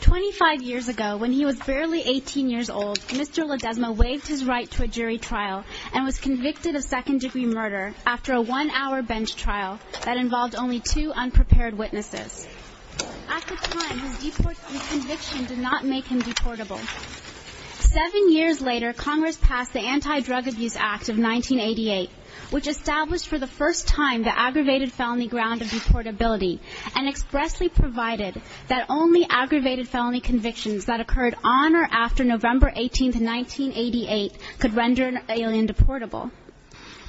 25 years ago, when he was barely 18 years old, Mr. Ledesma waived his right to a jury trial and was convicted of second-degree murder after a one-hour bench trial that involved only two unprepared witnesses. At the time, his conviction did not make him deportable. Seven years later, Congress passed the Anti-Drug Abuse Act of 1988, which established for the first time the aggravated felony ground of deportability and expressly provided that only aggravated felony convictions that occurred on or after November 18, 1988 could render an alien deportable.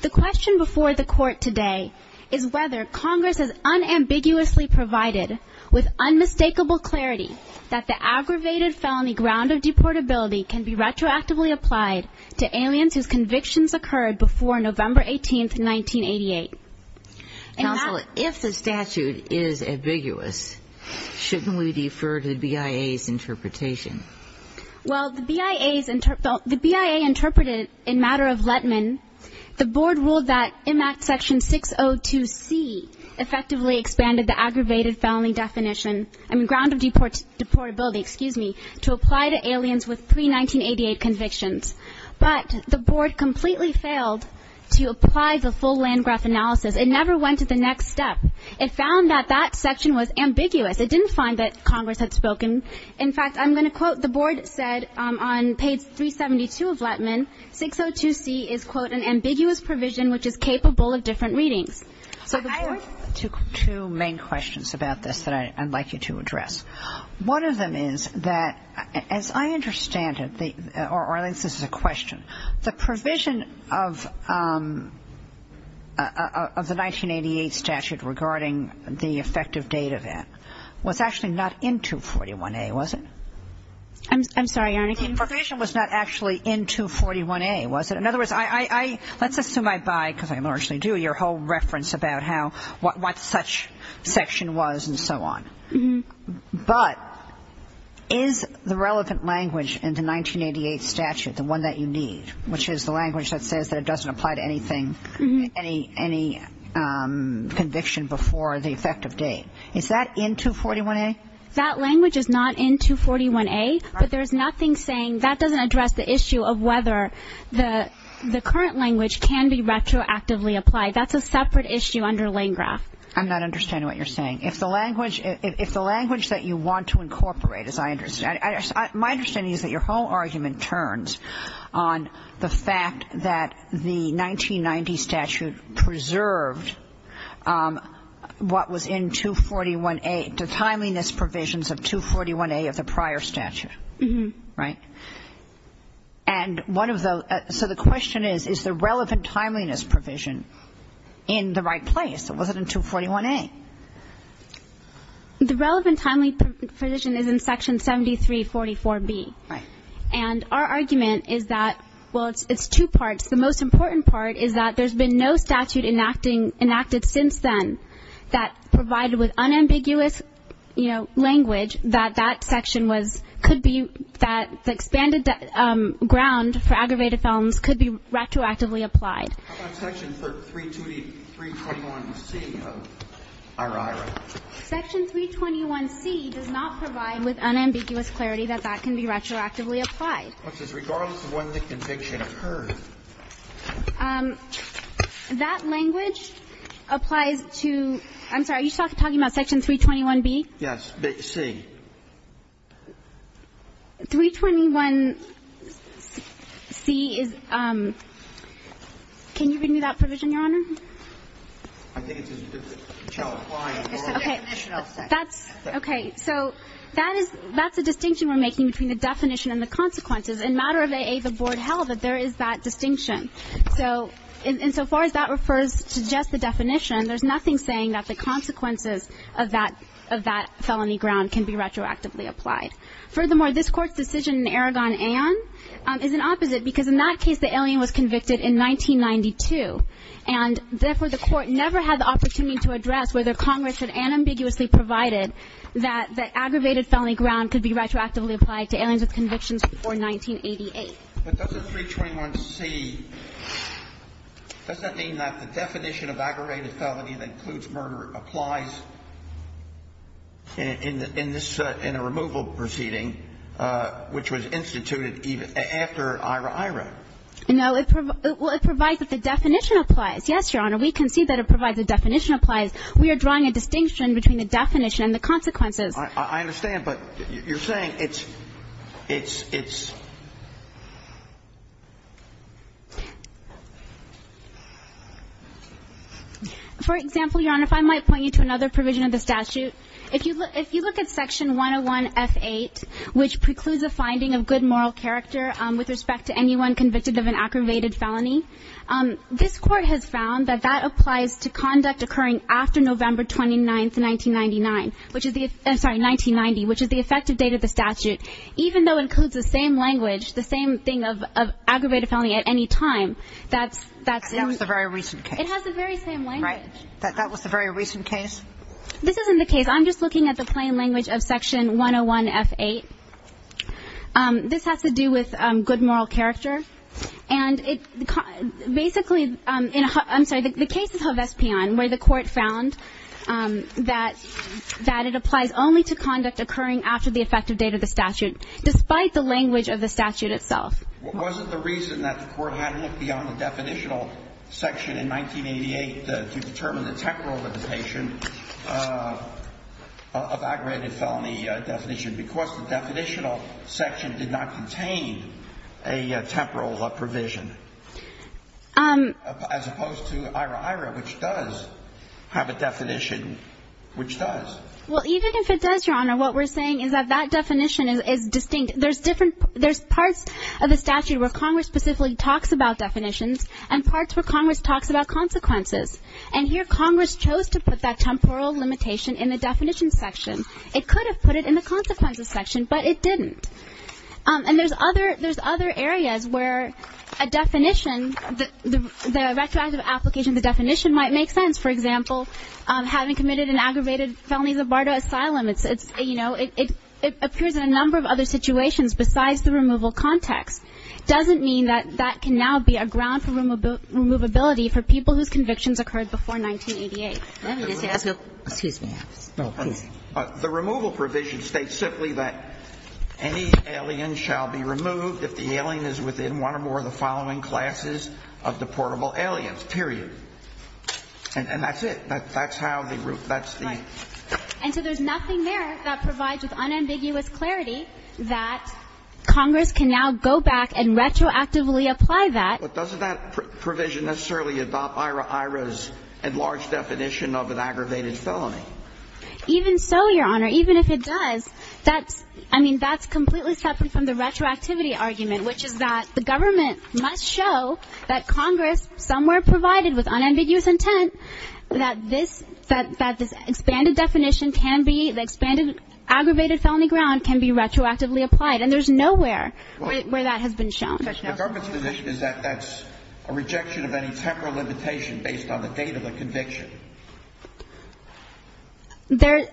The question before the Court today is whether Congress has unambiguously provided with unmistakable clarity that the aggravated felony ground of deportability can be retroactively applied to aliens whose convictions occurred before November 18, 1988. Counsel, if the statute is ambiguous, shouldn't we defer to the BIA's interpretation? Well, the BIA interpreted it in matter of Lettman. The Board ruled that IMAC Section 602C effectively expanded the aggravated felony definition, I mean, ground of deportability, excuse me, to apply to aliens with pre-1988 convictions. But the Board completely failed to apply the full Landgraf analysis. It never went to the next step. It found that that section was ambiguous. It didn't find that Congress had spoken. In fact, I'm going to quote, the Board said on page 372 of Lettman, 602C is, quote, an ambiguous provision which is capable of different readings. I have two main questions about this that I'd like you to address. One of them is that, as I understand it, or at least this is a question, the provision of the 1988 statute regarding the effective date event was actually not in 241A, was it? I'm sorry, Your Honor. The provision was not actually in 241A, was it? In other words, let's assume I buy, because I largely do, your whole reference about what such section was and so on. But is the relevant language in the 1988 statute, the one that you need, which is the language that says that it doesn't apply to anything, any conviction before the effective date, is that in 241A? That language is not in 241A, but there is nothing saying that doesn't address the issue of whether the current language can be retroactively applied. That's a separate issue under Landgraf. I'm not understanding what you're saying. If the language that you want to incorporate, as I understand it, my understanding is that your whole argument turns on the fact that the 1990 statute preserved what was in 241A, the timeliness provisions of 241A of the prior statute, right? And one of the so the question is, is the relevant timeliness provision in the right place? Or was it in 241A? The relevant timeliness provision is in Section 7344B. Right. And our argument is that, well, it's two parts. The most important part is that there's been no statute enacted since then that provided with unambiguous, you know, language that that section could be, that the expanded ground for aggravated felons could be retroactively applied. How about Section 321C of RI, right? Section 321C does not provide with unambiguous clarity that that can be retroactively applied. Which is regardless of when the conviction occurred. That language applies to, I'm sorry, are you talking about Section 321B? Yes. The C. 321C is, can you read me that provision, Your Honor? I think it's in the definition of the section. Okay. So that is, that's a distinction we're making between the definition and the consequences. And matter of AA, the Board held that there is that distinction. So insofar as that refers to just the definition, there's nothing saying that the consequences of that felony ground can be retroactively applied. Furthermore, this Court's decision in Aragon Aon is an opposite, because in that case the alien was convicted in 1992. And therefore, the Court never had the opportunity to address whether Congress had unambiguously provided that the aggravated felony ground could be retroactively applied to aliens with convictions before 1988. But doesn't 321C, does that mean that the definition of aggravated felony that includes murder applies in this, in a removal proceeding, which was instituted after Ira Ira? No. Well, it provides that the definition applies. Yes, Your Honor. We concede that it provides the definition applies. We are drawing a distinction between the definition and the consequences. I understand, but you're saying it's, it's, it's. For example, Your Honor, if I might point you to another provision of the statute. If you look at section 101F8, which precludes a finding of good moral character with respect to anyone convicted of an aggravated felony, this Court has found that that applies to conduct occurring after November 29th, 1999, which is the, I'm sorry, 1990, which is the effective date of the statute. Even though it includes the same language, the same thing of, of aggravated felony at any time, that's, that's. That was the very recent case. It has the very same language. Right. That was the very recent case. This isn't the case. I'm just looking at the plain language of section 101F8. This has to do with good moral character. And it, basically, in, I'm sorry, the case of Hovest-Pion, where the Court found that, that it applies only to conduct occurring after the effective date of the statute, despite the language of the statute itself. Wasn't the reason that the Court hadn't looked beyond the definitional section in 1988 to determine the temporal limitation of, of aggravated felony definition because the definitional section did not contain a temporal provision, as opposed to IRA-IRA, which does have a definition, which does? Well, even if it does, Your Honor, what we're saying is that that definition is, is distinct. There's different, there's parts of the statute where Congress specifically talks about definitions and parts where Congress talks about consequences. And here Congress chose to put that temporal limitation in the definition section. It could have put it in the consequences section, but it didn't. And there's other, there's other areas where a definition, the retroactive application of the definition might make sense. For example, having committed an aggravated felony in the Bardo Asylum, it's, it's, you know, it, it appears in a number of other situations besides the removal context. Doesn't mean that that can now be a ground for removability for people whose convictions occurred before 1988. Excuse me. Oh, please. The removal provision states simply that any alien shall be removed if the alien is within one or more of the following classes of deportable aliens, period. And that's it. That's how the, that's the. Right. And so there's nothing there that provides with unambiguous clarity that Congress can now go back and retroactively apply that. But doesn't that provision necessarily adopt IRA's enlarged definition of an aggravated felony? Even so, Your Honor, even if it does, that's, I mean, that's completely separate from the retroactivity argument, which is that the government must show that Congress somewhere provided with unambiguous intent that this, that, that this expanded definition can be, the expanded aggravated felony ground can be retroactively applied. And there's nowhere where that has been shown. The government's position is that that's a rejection of any temporal limitation based on the date of the conviction. There,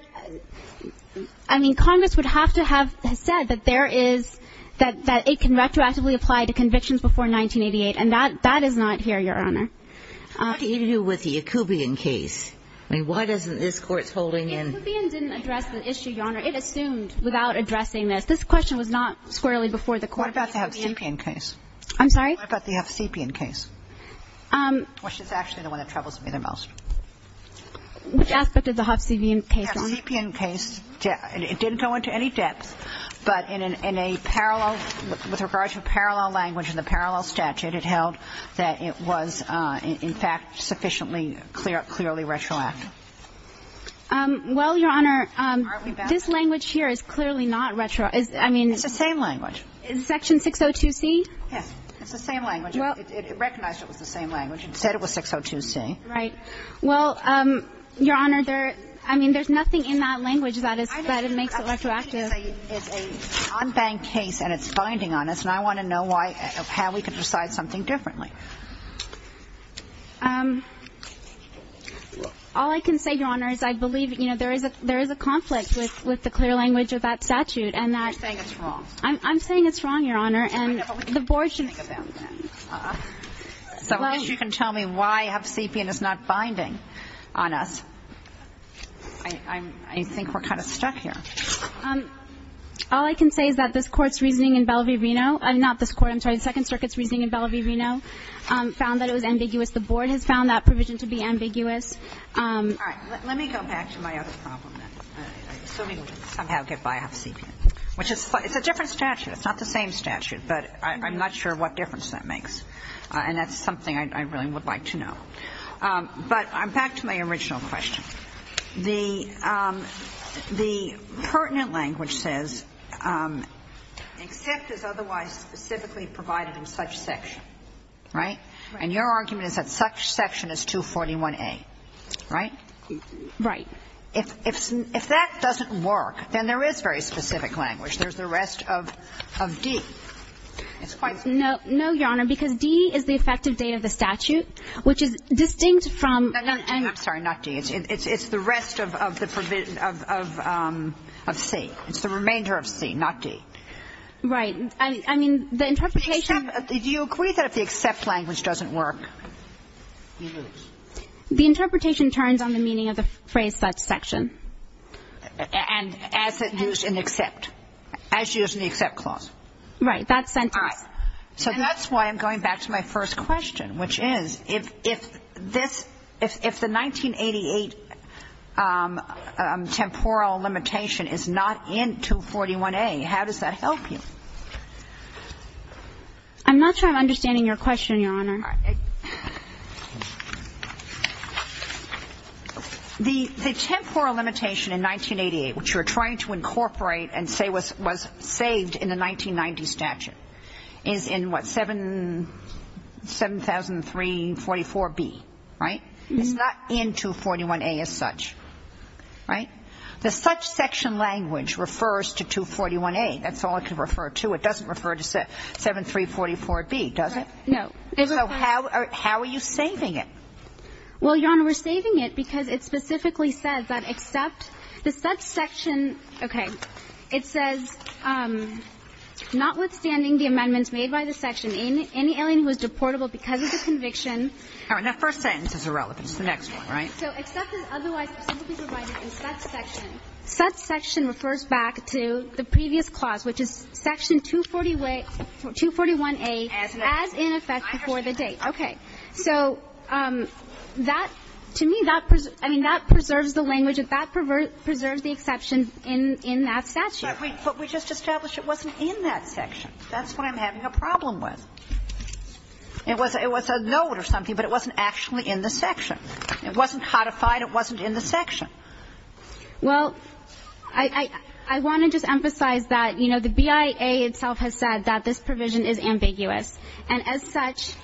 I mean, Congress would have to have said that there is, that, that it can retroactively apply to convictions before 1988. And that, that is not here, Your Honor. What do you do with the Yacoubian case? I mean, why doesn't this court's holding in. Yacoubian didn't address the issue, Your Honor. It assumed without addressing this. This question was not squarely before the court. What about the Hovsepian case? I'm sorry? What about the Hovsepian case? Which is actually the one that troubles me the most. Which aspect of the Hovsepian case? The Hovsepian case, it didn't go into any depth, but in a parallel, with regard to parallel language and the parallel statute, it held that it was, in fact, sufficiently clearly retroactive. Well, Your Honor, this language here is clearly not retroactive. I mean. It's the same language. Section 602C? Yes. It's the same language. Well. It recognized it was the same language. It said it was 602C. Right. Well, Your Honor, there, I mean, there's nothing in that language that is, that makes it retroactive. It's an unbanked case, and it's binding on us, and I want to know why, how we can decide something differently. All I can say, Your Honor, is I believe, you know, there is a, there is a conflict with, with the clear language of that statute, and that. I'm just saying it's wrong. I'm saying it's wrong, Your Honor, and the board should. So I guess you can tell me why half-sepian is not binding on us. I'm, I think we're kind of stuck here. All I can say is that this Court's reasoning in Bellevue, Reno, not this Court, I'm sorry, the Second Circuit's reasoning in Bellevue, Reno, found that it was ambiguous. The board has found that provision to be ambiguous. All right. Let me go back to my other problem, then. So we would somehow get by half-sepian, which is, it's a different statute. It's not the same statute, but I'm not sure what difference that makes. And that's something I really would like to know. But I'm back to my original question. The, the pertinent language says except is otherwise specifically provided in such section, right? And your argument is that such section is 241A, right? Right. If, if that doesn't work, then there is very specific language. There's the rest of D. It's quite the same. No, Your Honor, because D is the effective date of the statute, which is distinct from. I'm sorry, not D. It's the rest of the provision of C. It's the remainder of C, not D. Right. I mean, the interpretation. Do you agree that if the except language doesn't work, we lose? The interpretation turns on the meaning of the phrase such section. And as it used in except. As used in the except clause. Right. That sentence. So that's why I'm going back to my first question, which is, if, if this, if, if the 1988 temporal limitation is not in 241A, how does that help you? I'm not sure I'm understanding your question, Your Honor. The, the temporal limitation in 1988, which you're trying to incorporate and say was, was saved in the 1990 statute, is in what, 7, 7344B, right? It's not in 241A as such, right? The such section language refers to 241A. That's all it could refer to. It doesn't refer to 7344B, does it? No. So how, how are you saving it? Well, Your Honor, we're saving it because it specifically says that except the such section, okay, it says, notwithstanding the amendments made by the section, any alien who is deportable because of the conviction. All right. That first sentence is irrelevant. It's the next one, right? So except is otherwise specifically provided in such section. Such section refers back to the previous clause, which is section 241A, as in effect before the date. Okay. So that, to me, that, I mean, that preserves the language. That preserves the exception in, in that statute. But we just established it wasn't in that section. That's what I'm having a problem with. It was, it was a note or something, but it wasn't actually in the section. It wasn't codified. It wasn't in the section. Well, I, I, I want to just emphasize that, you know, the BIA itself has said that this provision is ambiguous. And as such,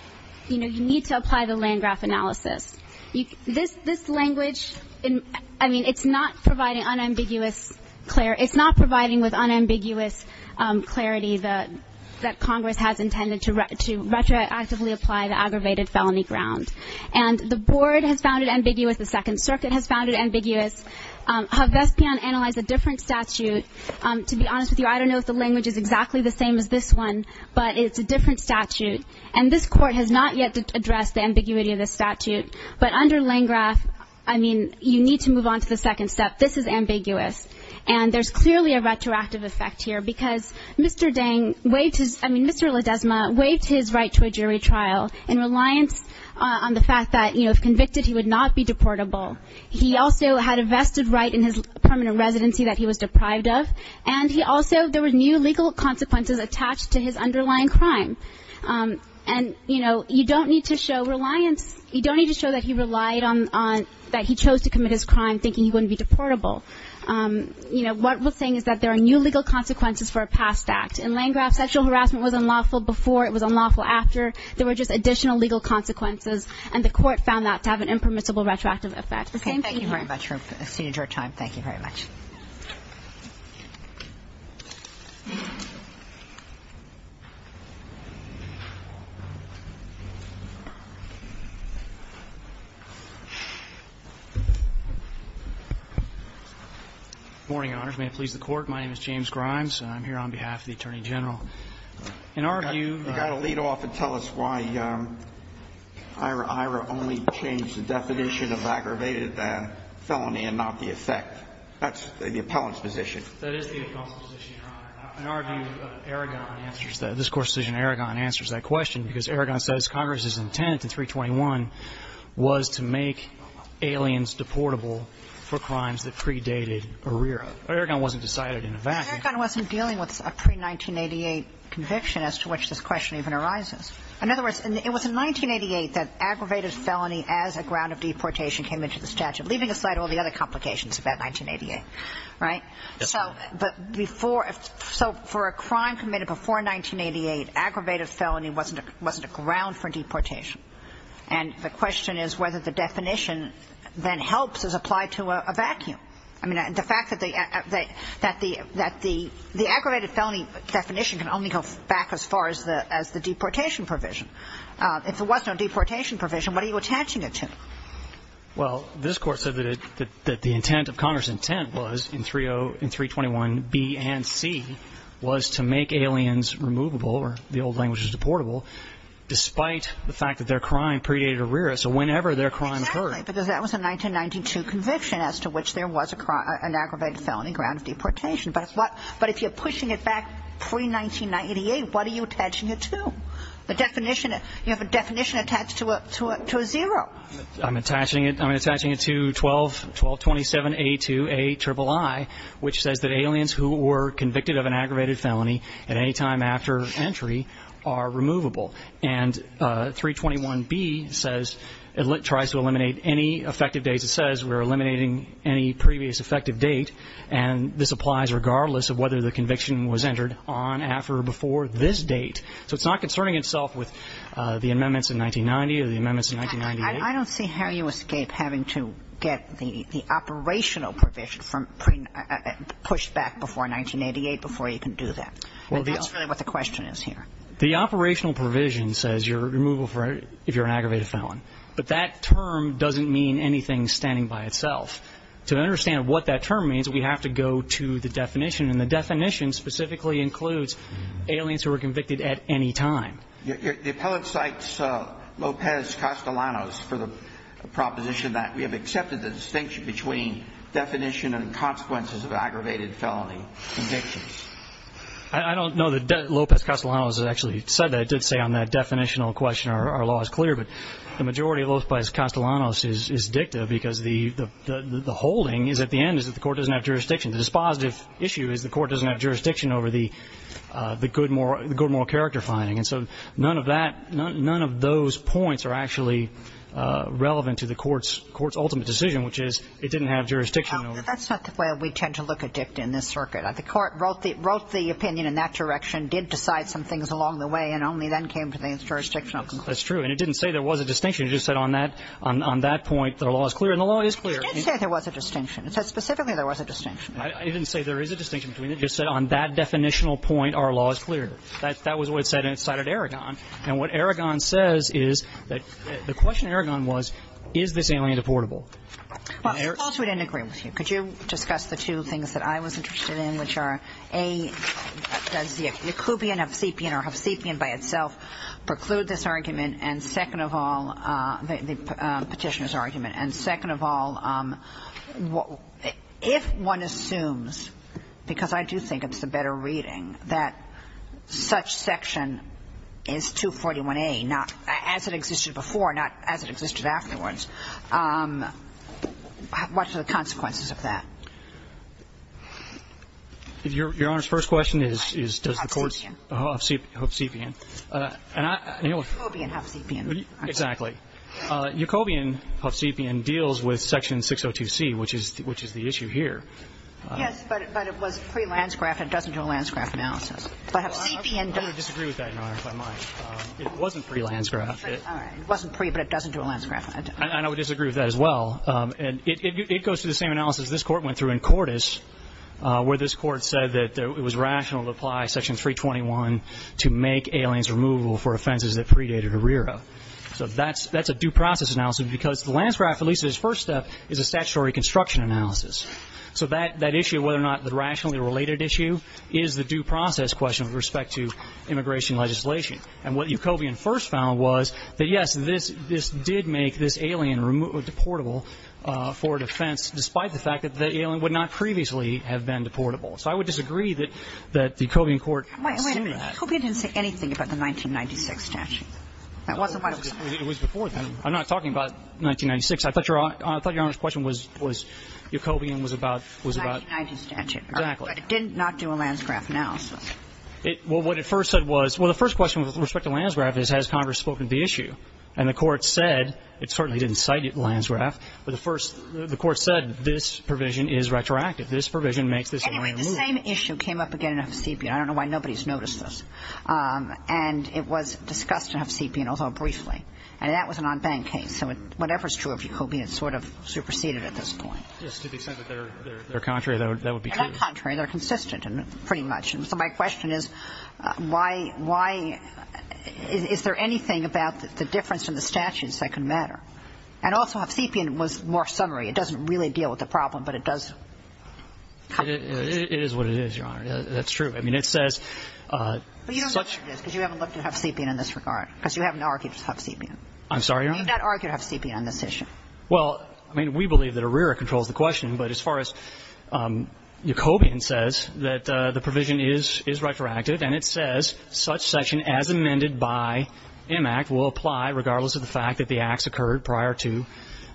you know, you need to apply the Landgraf analysis. This, this language, I mean, it's not providing unambiguous, it's not providing with unambiguous clarity that Congress has intended to retroactively apply the aggravated felony ground. And the board has found it ambiguous, the Second Circuit has found it ambiguous. Havespian analyzed a different statute. To be honest with you, I don't know if the language is exactly the same as this one, but it's a different statute. And this court has not yet addressed the ambiguity of this statute. But under Landgraf, I mean, you need to move on to the second step. This is ambiguous. And there's clearly a retroactive effect here because Mr. Dang waived his, I mean, Mr. Ledesma waived his right to a jury trial in reliance on the fact that, you know, if convicted, he would not be deportable. He also had a vested right in his permanent residency that he was deprived of. And he also, there were new legal consequences attached to his underlying crime. And, you know, you don't need to show reliance, you don't need to show that he relied on that he chose to commit his crime thinking he wouldn't be deportable. You know, what we're saying is that there are new legal consequences for a past act. In Landgraf, sexual harassment was unlawful before, it was unlawful after. There were just additional legal consequences. And the court found that to have an impermissible retroactive effect. The same thing here. Thank you very much. Good morning, Your Honors. May it please the Court, my name is James Grimes. I'm here on behalf of the Attorney General. In our view. You've got to lead off and tell us why Ira Ira only changed the definition of aggravated felony and not the effect. That's the appellant's position. That is the appellant's position, Your Honor. In our view, Aragon answers that. This Court's decision in Aragon answers that question because Aragon says Congress's intent in 321 was to make aliens deportable for crimes that predated Arrera. Aragon wasn't decided in a vacuum. Aragon wasn't dealing with a pre-1988 conviction as to which this question even arises. In other words, it was in 1988 that aggravated felony as a ground of deportation came into the statute, leaving aside all the other complications of that 1988. Right? Yes, Your Honor. So for a crime committed before 1988, aggravated felony wasn't a ground for deportation. And the question is whether the definition then helps as applied to a vacuum. I mean, the fact that the aggravated felony definition can only go back as far as the deportation provision. If there was no deportation provision, what are you attaching it to? Well, this Court said that the intent of Congress's intent was in 321, B and C, was to make aliens removable, or the old language is deportable, despite the fact that their crime predated Arrera. So whenever their crime occurred. Right, because that was a 1992 conviction as to which there was an aggravated felony ground of deportation. But if you're pushing it back pre-1998, what are you attaching it to? The definition, you have a definition attached to a zero. I'm attaching it to 1227A2Aiii, which says that aliens who were convicted of an aggravated felony at any time after entry are removable. And 321B says it tries to eliminate any effective dates. It says we're eliminating any previous effective date, and this applies regardless of whether the conviction was entered on, after, or before this date. So it's not concerning itself with the amendments in 1990 or the amendments in 1998. I don't see how you escape having to get the operational provision pushed back before 1988 before you can do that. That's really what the question is here. The operational provision says you're removable if you're an aggravated felon, but that term doesn't mean anything standing by itself. To understand what that term means, we have to go to the definition, and the definition specifically includes aliens who were convicted at any time. The appellate cites Lopez-Castellanos for the proposition that we have accepted the distinction between definition and consequences of aggravated felony convictions. I don't know that Lopez-Castellanos actually said that. It did say on that definitional question our law is clear, but the majority of Lopez-Castellanos is dicta because the holding is at the end is that the court doesn't have jurisdiction. The dispositive issue is the court doesn't have jurisdiction over the good moral character finding, and so none of that, none of those points are actually relevant to the court's ultimate decision, which is it didn't have jurisdiction. That's not the way we tend to look at dicta in this circuit. The court wrote the opinion in that direction, did decide some things along the way, and only then came to the jurisdictional conclusion. That's true, and it didn't say there was a distinction. It just said on that point that our law is clear, and the law is clear. It did say there was a distinction. It said specifically there was a distinction. It didn't say there is a distinction between it. It just said on that definitional point our law is clear. That was what it said, and it cited Aragon, and what Aragon says is that the question Aragon was is this alien deportable? Well, suppose we didn't agree with you. Could you discuss the two things that I was interested in, which are, A, does the occlubian, obscepian, or obscepian by itself preclude this argument, and second of all, the Petitioner's argument, and second of all, if one assumes, because I do think it's a better reading, that such section is 241A, not as it existed before, not as it existed afterwards, what are the consequences of that? Your Honor's first question is, does the court's obscepian, and I, and you'll Obscepian, obscepian. Exactly. Yacobian obscepian deals with section 602C, which is the issue here. Yes, but it was pre-landscraft. It doesn't do a landscraft analysis. But obscepian does. I would disagree with that, Your Honor, if I might. It wasn't pre-landscraft. All right. It wasn't pre, but it doesn't do a landscraft analysis. And I would disagree with that as well. And it goes through the same analysis this court went through in Cordes, where this court said that it was rational to apply section 321 to make aliens removable for offenses that predated Herrera. So that's a due process analysis, because the landscraft, at least at its first step, is a statutory construction analysis. So that issue of whether or not the rationally related issue is the due process question with respect to immigration legislation. And what Yacobian first found was that, yes, this did make this alien removable, deportable for defense, despite the fact that the alien would not previously have been deportable. So I would disagree that the Yacobian court assumed that. Wait a minute. Yacobian didn't say anything about the 1996 statute. That wasn't what it was. It was before then. I'm not talking about 1996. I thought Your Honor's question was Yacobian was about 1990s statute. Exactly. But it did not do a landscraft analysis. Well, what it first said was, well, the first question with respect to landscraft is has Congress spoken to the issue. And the court said, it certainly didn't cite landscraft, but the first the court said this provision is retroactive. This provision makes this alien removable. Anyway, the same issue came up again in Huff-Sepian. I don't know why nobody's noticed this. And it was discussed in Huff-Sepian, although briefly. And that was an en banc case. So whatever's true of Yacobian is sort of superseded at this point. Yes, to the extent that they're contrary, that would be true. They're not contrary. They're consistent, pretty much. So my question is, why is there anything about the difference in the statutes that can matter? And also, Huff-Sepian was more summary. It doesn't really deal with the problem, but it does cover it. It is what it is, Your Honor. That's true. I mean, it says such But you don't know what it is because you haven't looked at Huff-Sepian in this regard, because you haven't argued Huff-Sepian. I'm sorry, Your Honor? You have not argued Huff-Sepian on this issue. Well, I mean, we believe that ARIRA controls the question, but as far as Yacobian says, that the provision is retroactive, and it says such section as amended by M. Act will apply regardless of the fact that the acts occurred prior to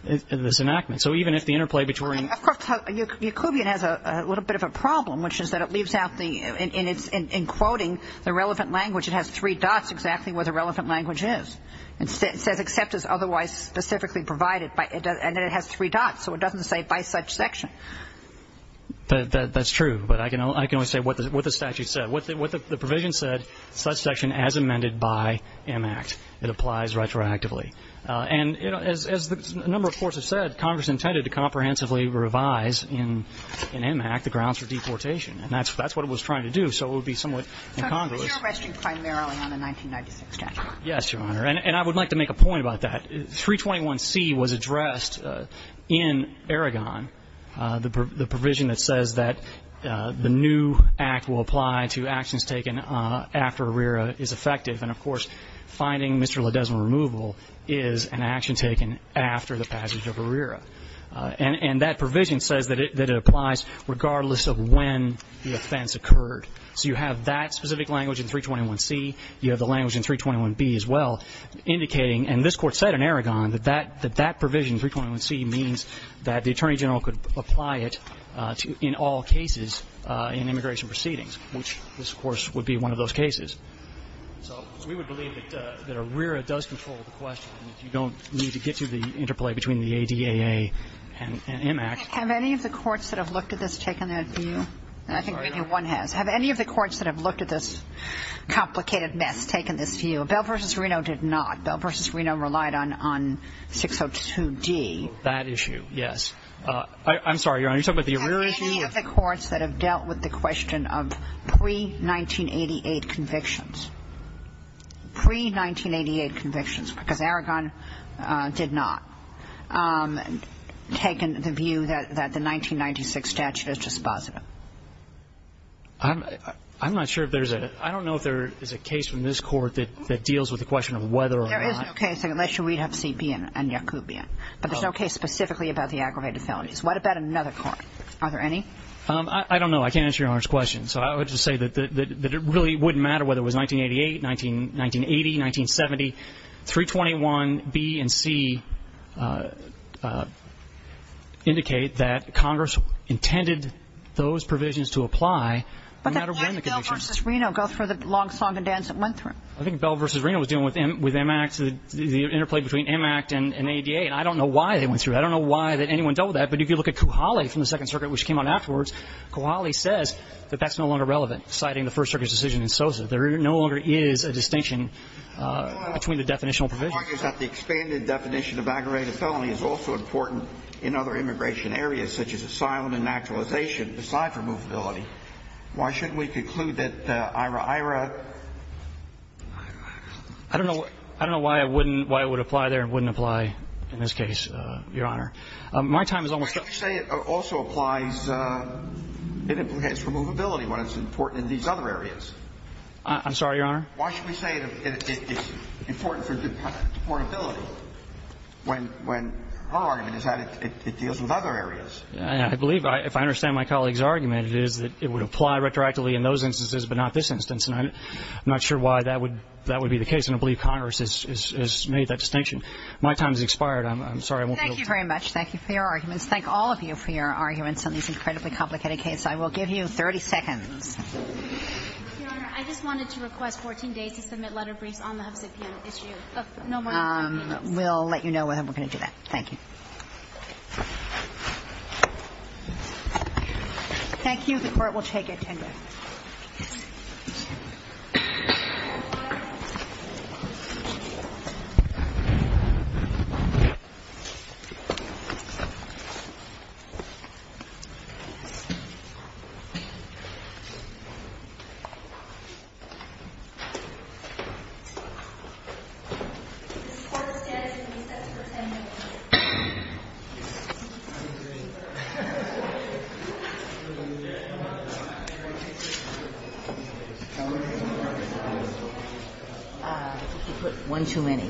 this enactment. So even if the interplay between Of course, Yacobian has a little bit of a problem, which is that it leaves out the in quoting the relevant language, it has three dots exactly where the relevant language is. It says except is otherwise specifically provided, and then it has three dots, so it doesn't say by such section. That's true, but I can only say what the statute said. What the provision said, such section as amended by M. Act. It applies retroactively. And, you know, as a number of courts have said, Congress intended to comprehensively revise in M. Act the grounds for deportation, and that's what it was trying to do, so it would be somewhat incongruous. But you're resting primarily on the 1996 statute. Yes, Your Honor. And I would like to make a point about that. 321C was addressed in Aragon, the provision that says that the new act will apply to actions taken after a RERA is effective, and, of course, finding Mr. Ledesma removable is an action taken after the passage of a RERA. And that provision says that it applies regardless of when the offense occurred. So you have that specific language in 321C, you have the language in 321B as well, indicating, and this Court said in Aragon, that that provision, 321C, means that the Attorney General could apply it in all cases in immigration proceedings, which this, of course, would be one of those cases. So we would believe that a RERA does control the question. You don't need to get to the interplay between the ADAA and M. Act. Have any of the courts that have looked at this taken that view? I think maybe one has. Have any of the courts that have looked at this complicated mess taken this view? Bell v. Reno did not. Bell v. Reno relied on 602D. That issue, yes. I'm sorry, Your Honor. You're talking about the RERA issue? Have any of the courts that have dealt with the question of pre-1988 convictions, pre-1988 convictions, because Aragon did not, taken the view that the 1996 statute is dispositive? I'm not sure if there's a – that deals with the question of whether or not – There is no case, unless we have CP and Yacoubian. But there's no case specifically about the aggravated felonies. What about another court? Are there any? I don't know. I can't answer Your Honor's question. So I would just say that it really wouldn't matter whether it was 1988, 1980, 1970. 321B and C indicate that Congress intended those provisions to apply no matter when the convictions – I think Bell v. Reno was dealing with M. Act, the interplay between M. Act and ADA. And I don't know why they went through that. I don't know why anyone dealt with that. But if you look at Kuhaly from the Second Circuit, which came out afterwards, Kuhaly says that that's no longer relevant, citing the First Circuit's decision in Sosa. There no longer is a distinction between the definitional provisions. The expanded definition of aggravated felony is also important in other immigration areas, such as asylum and naturalization, aside from movability. Why shouldn't we conclude that IRA, IRA? I don't know why it wouldn't – why it would apply there and wouldn't apply in this case, Your Honor. My time is almost up. Why don't you say it also applies – it implicates removability when it's important in these other areas? I'm sorry, Your Honor? Why should we say it's important for deportability when her argument is that it deals with other areas? I believe, if I understand my colleague's argument, it is that it would apply retroactively in those instances but not this instance. And I'm not sure why that would be the case. And I believe Congress has made that distinction. My time has expired. I'm sorry. I won't be able to – Thank you very much. Thank you for your arguments. Thank all of you for your arguments on this incredibly complicated case. I will give you 30 seconds. Your Honor, I just wanted to request 14 days to submit letter briefs on the Huffazett P.M. issue. No more than 14 days. We'll let you know when we're going to do that. Thank you. Thank you. The Court will take attendance. The Court is now in recess for 10 minutes. One too many. Thank you.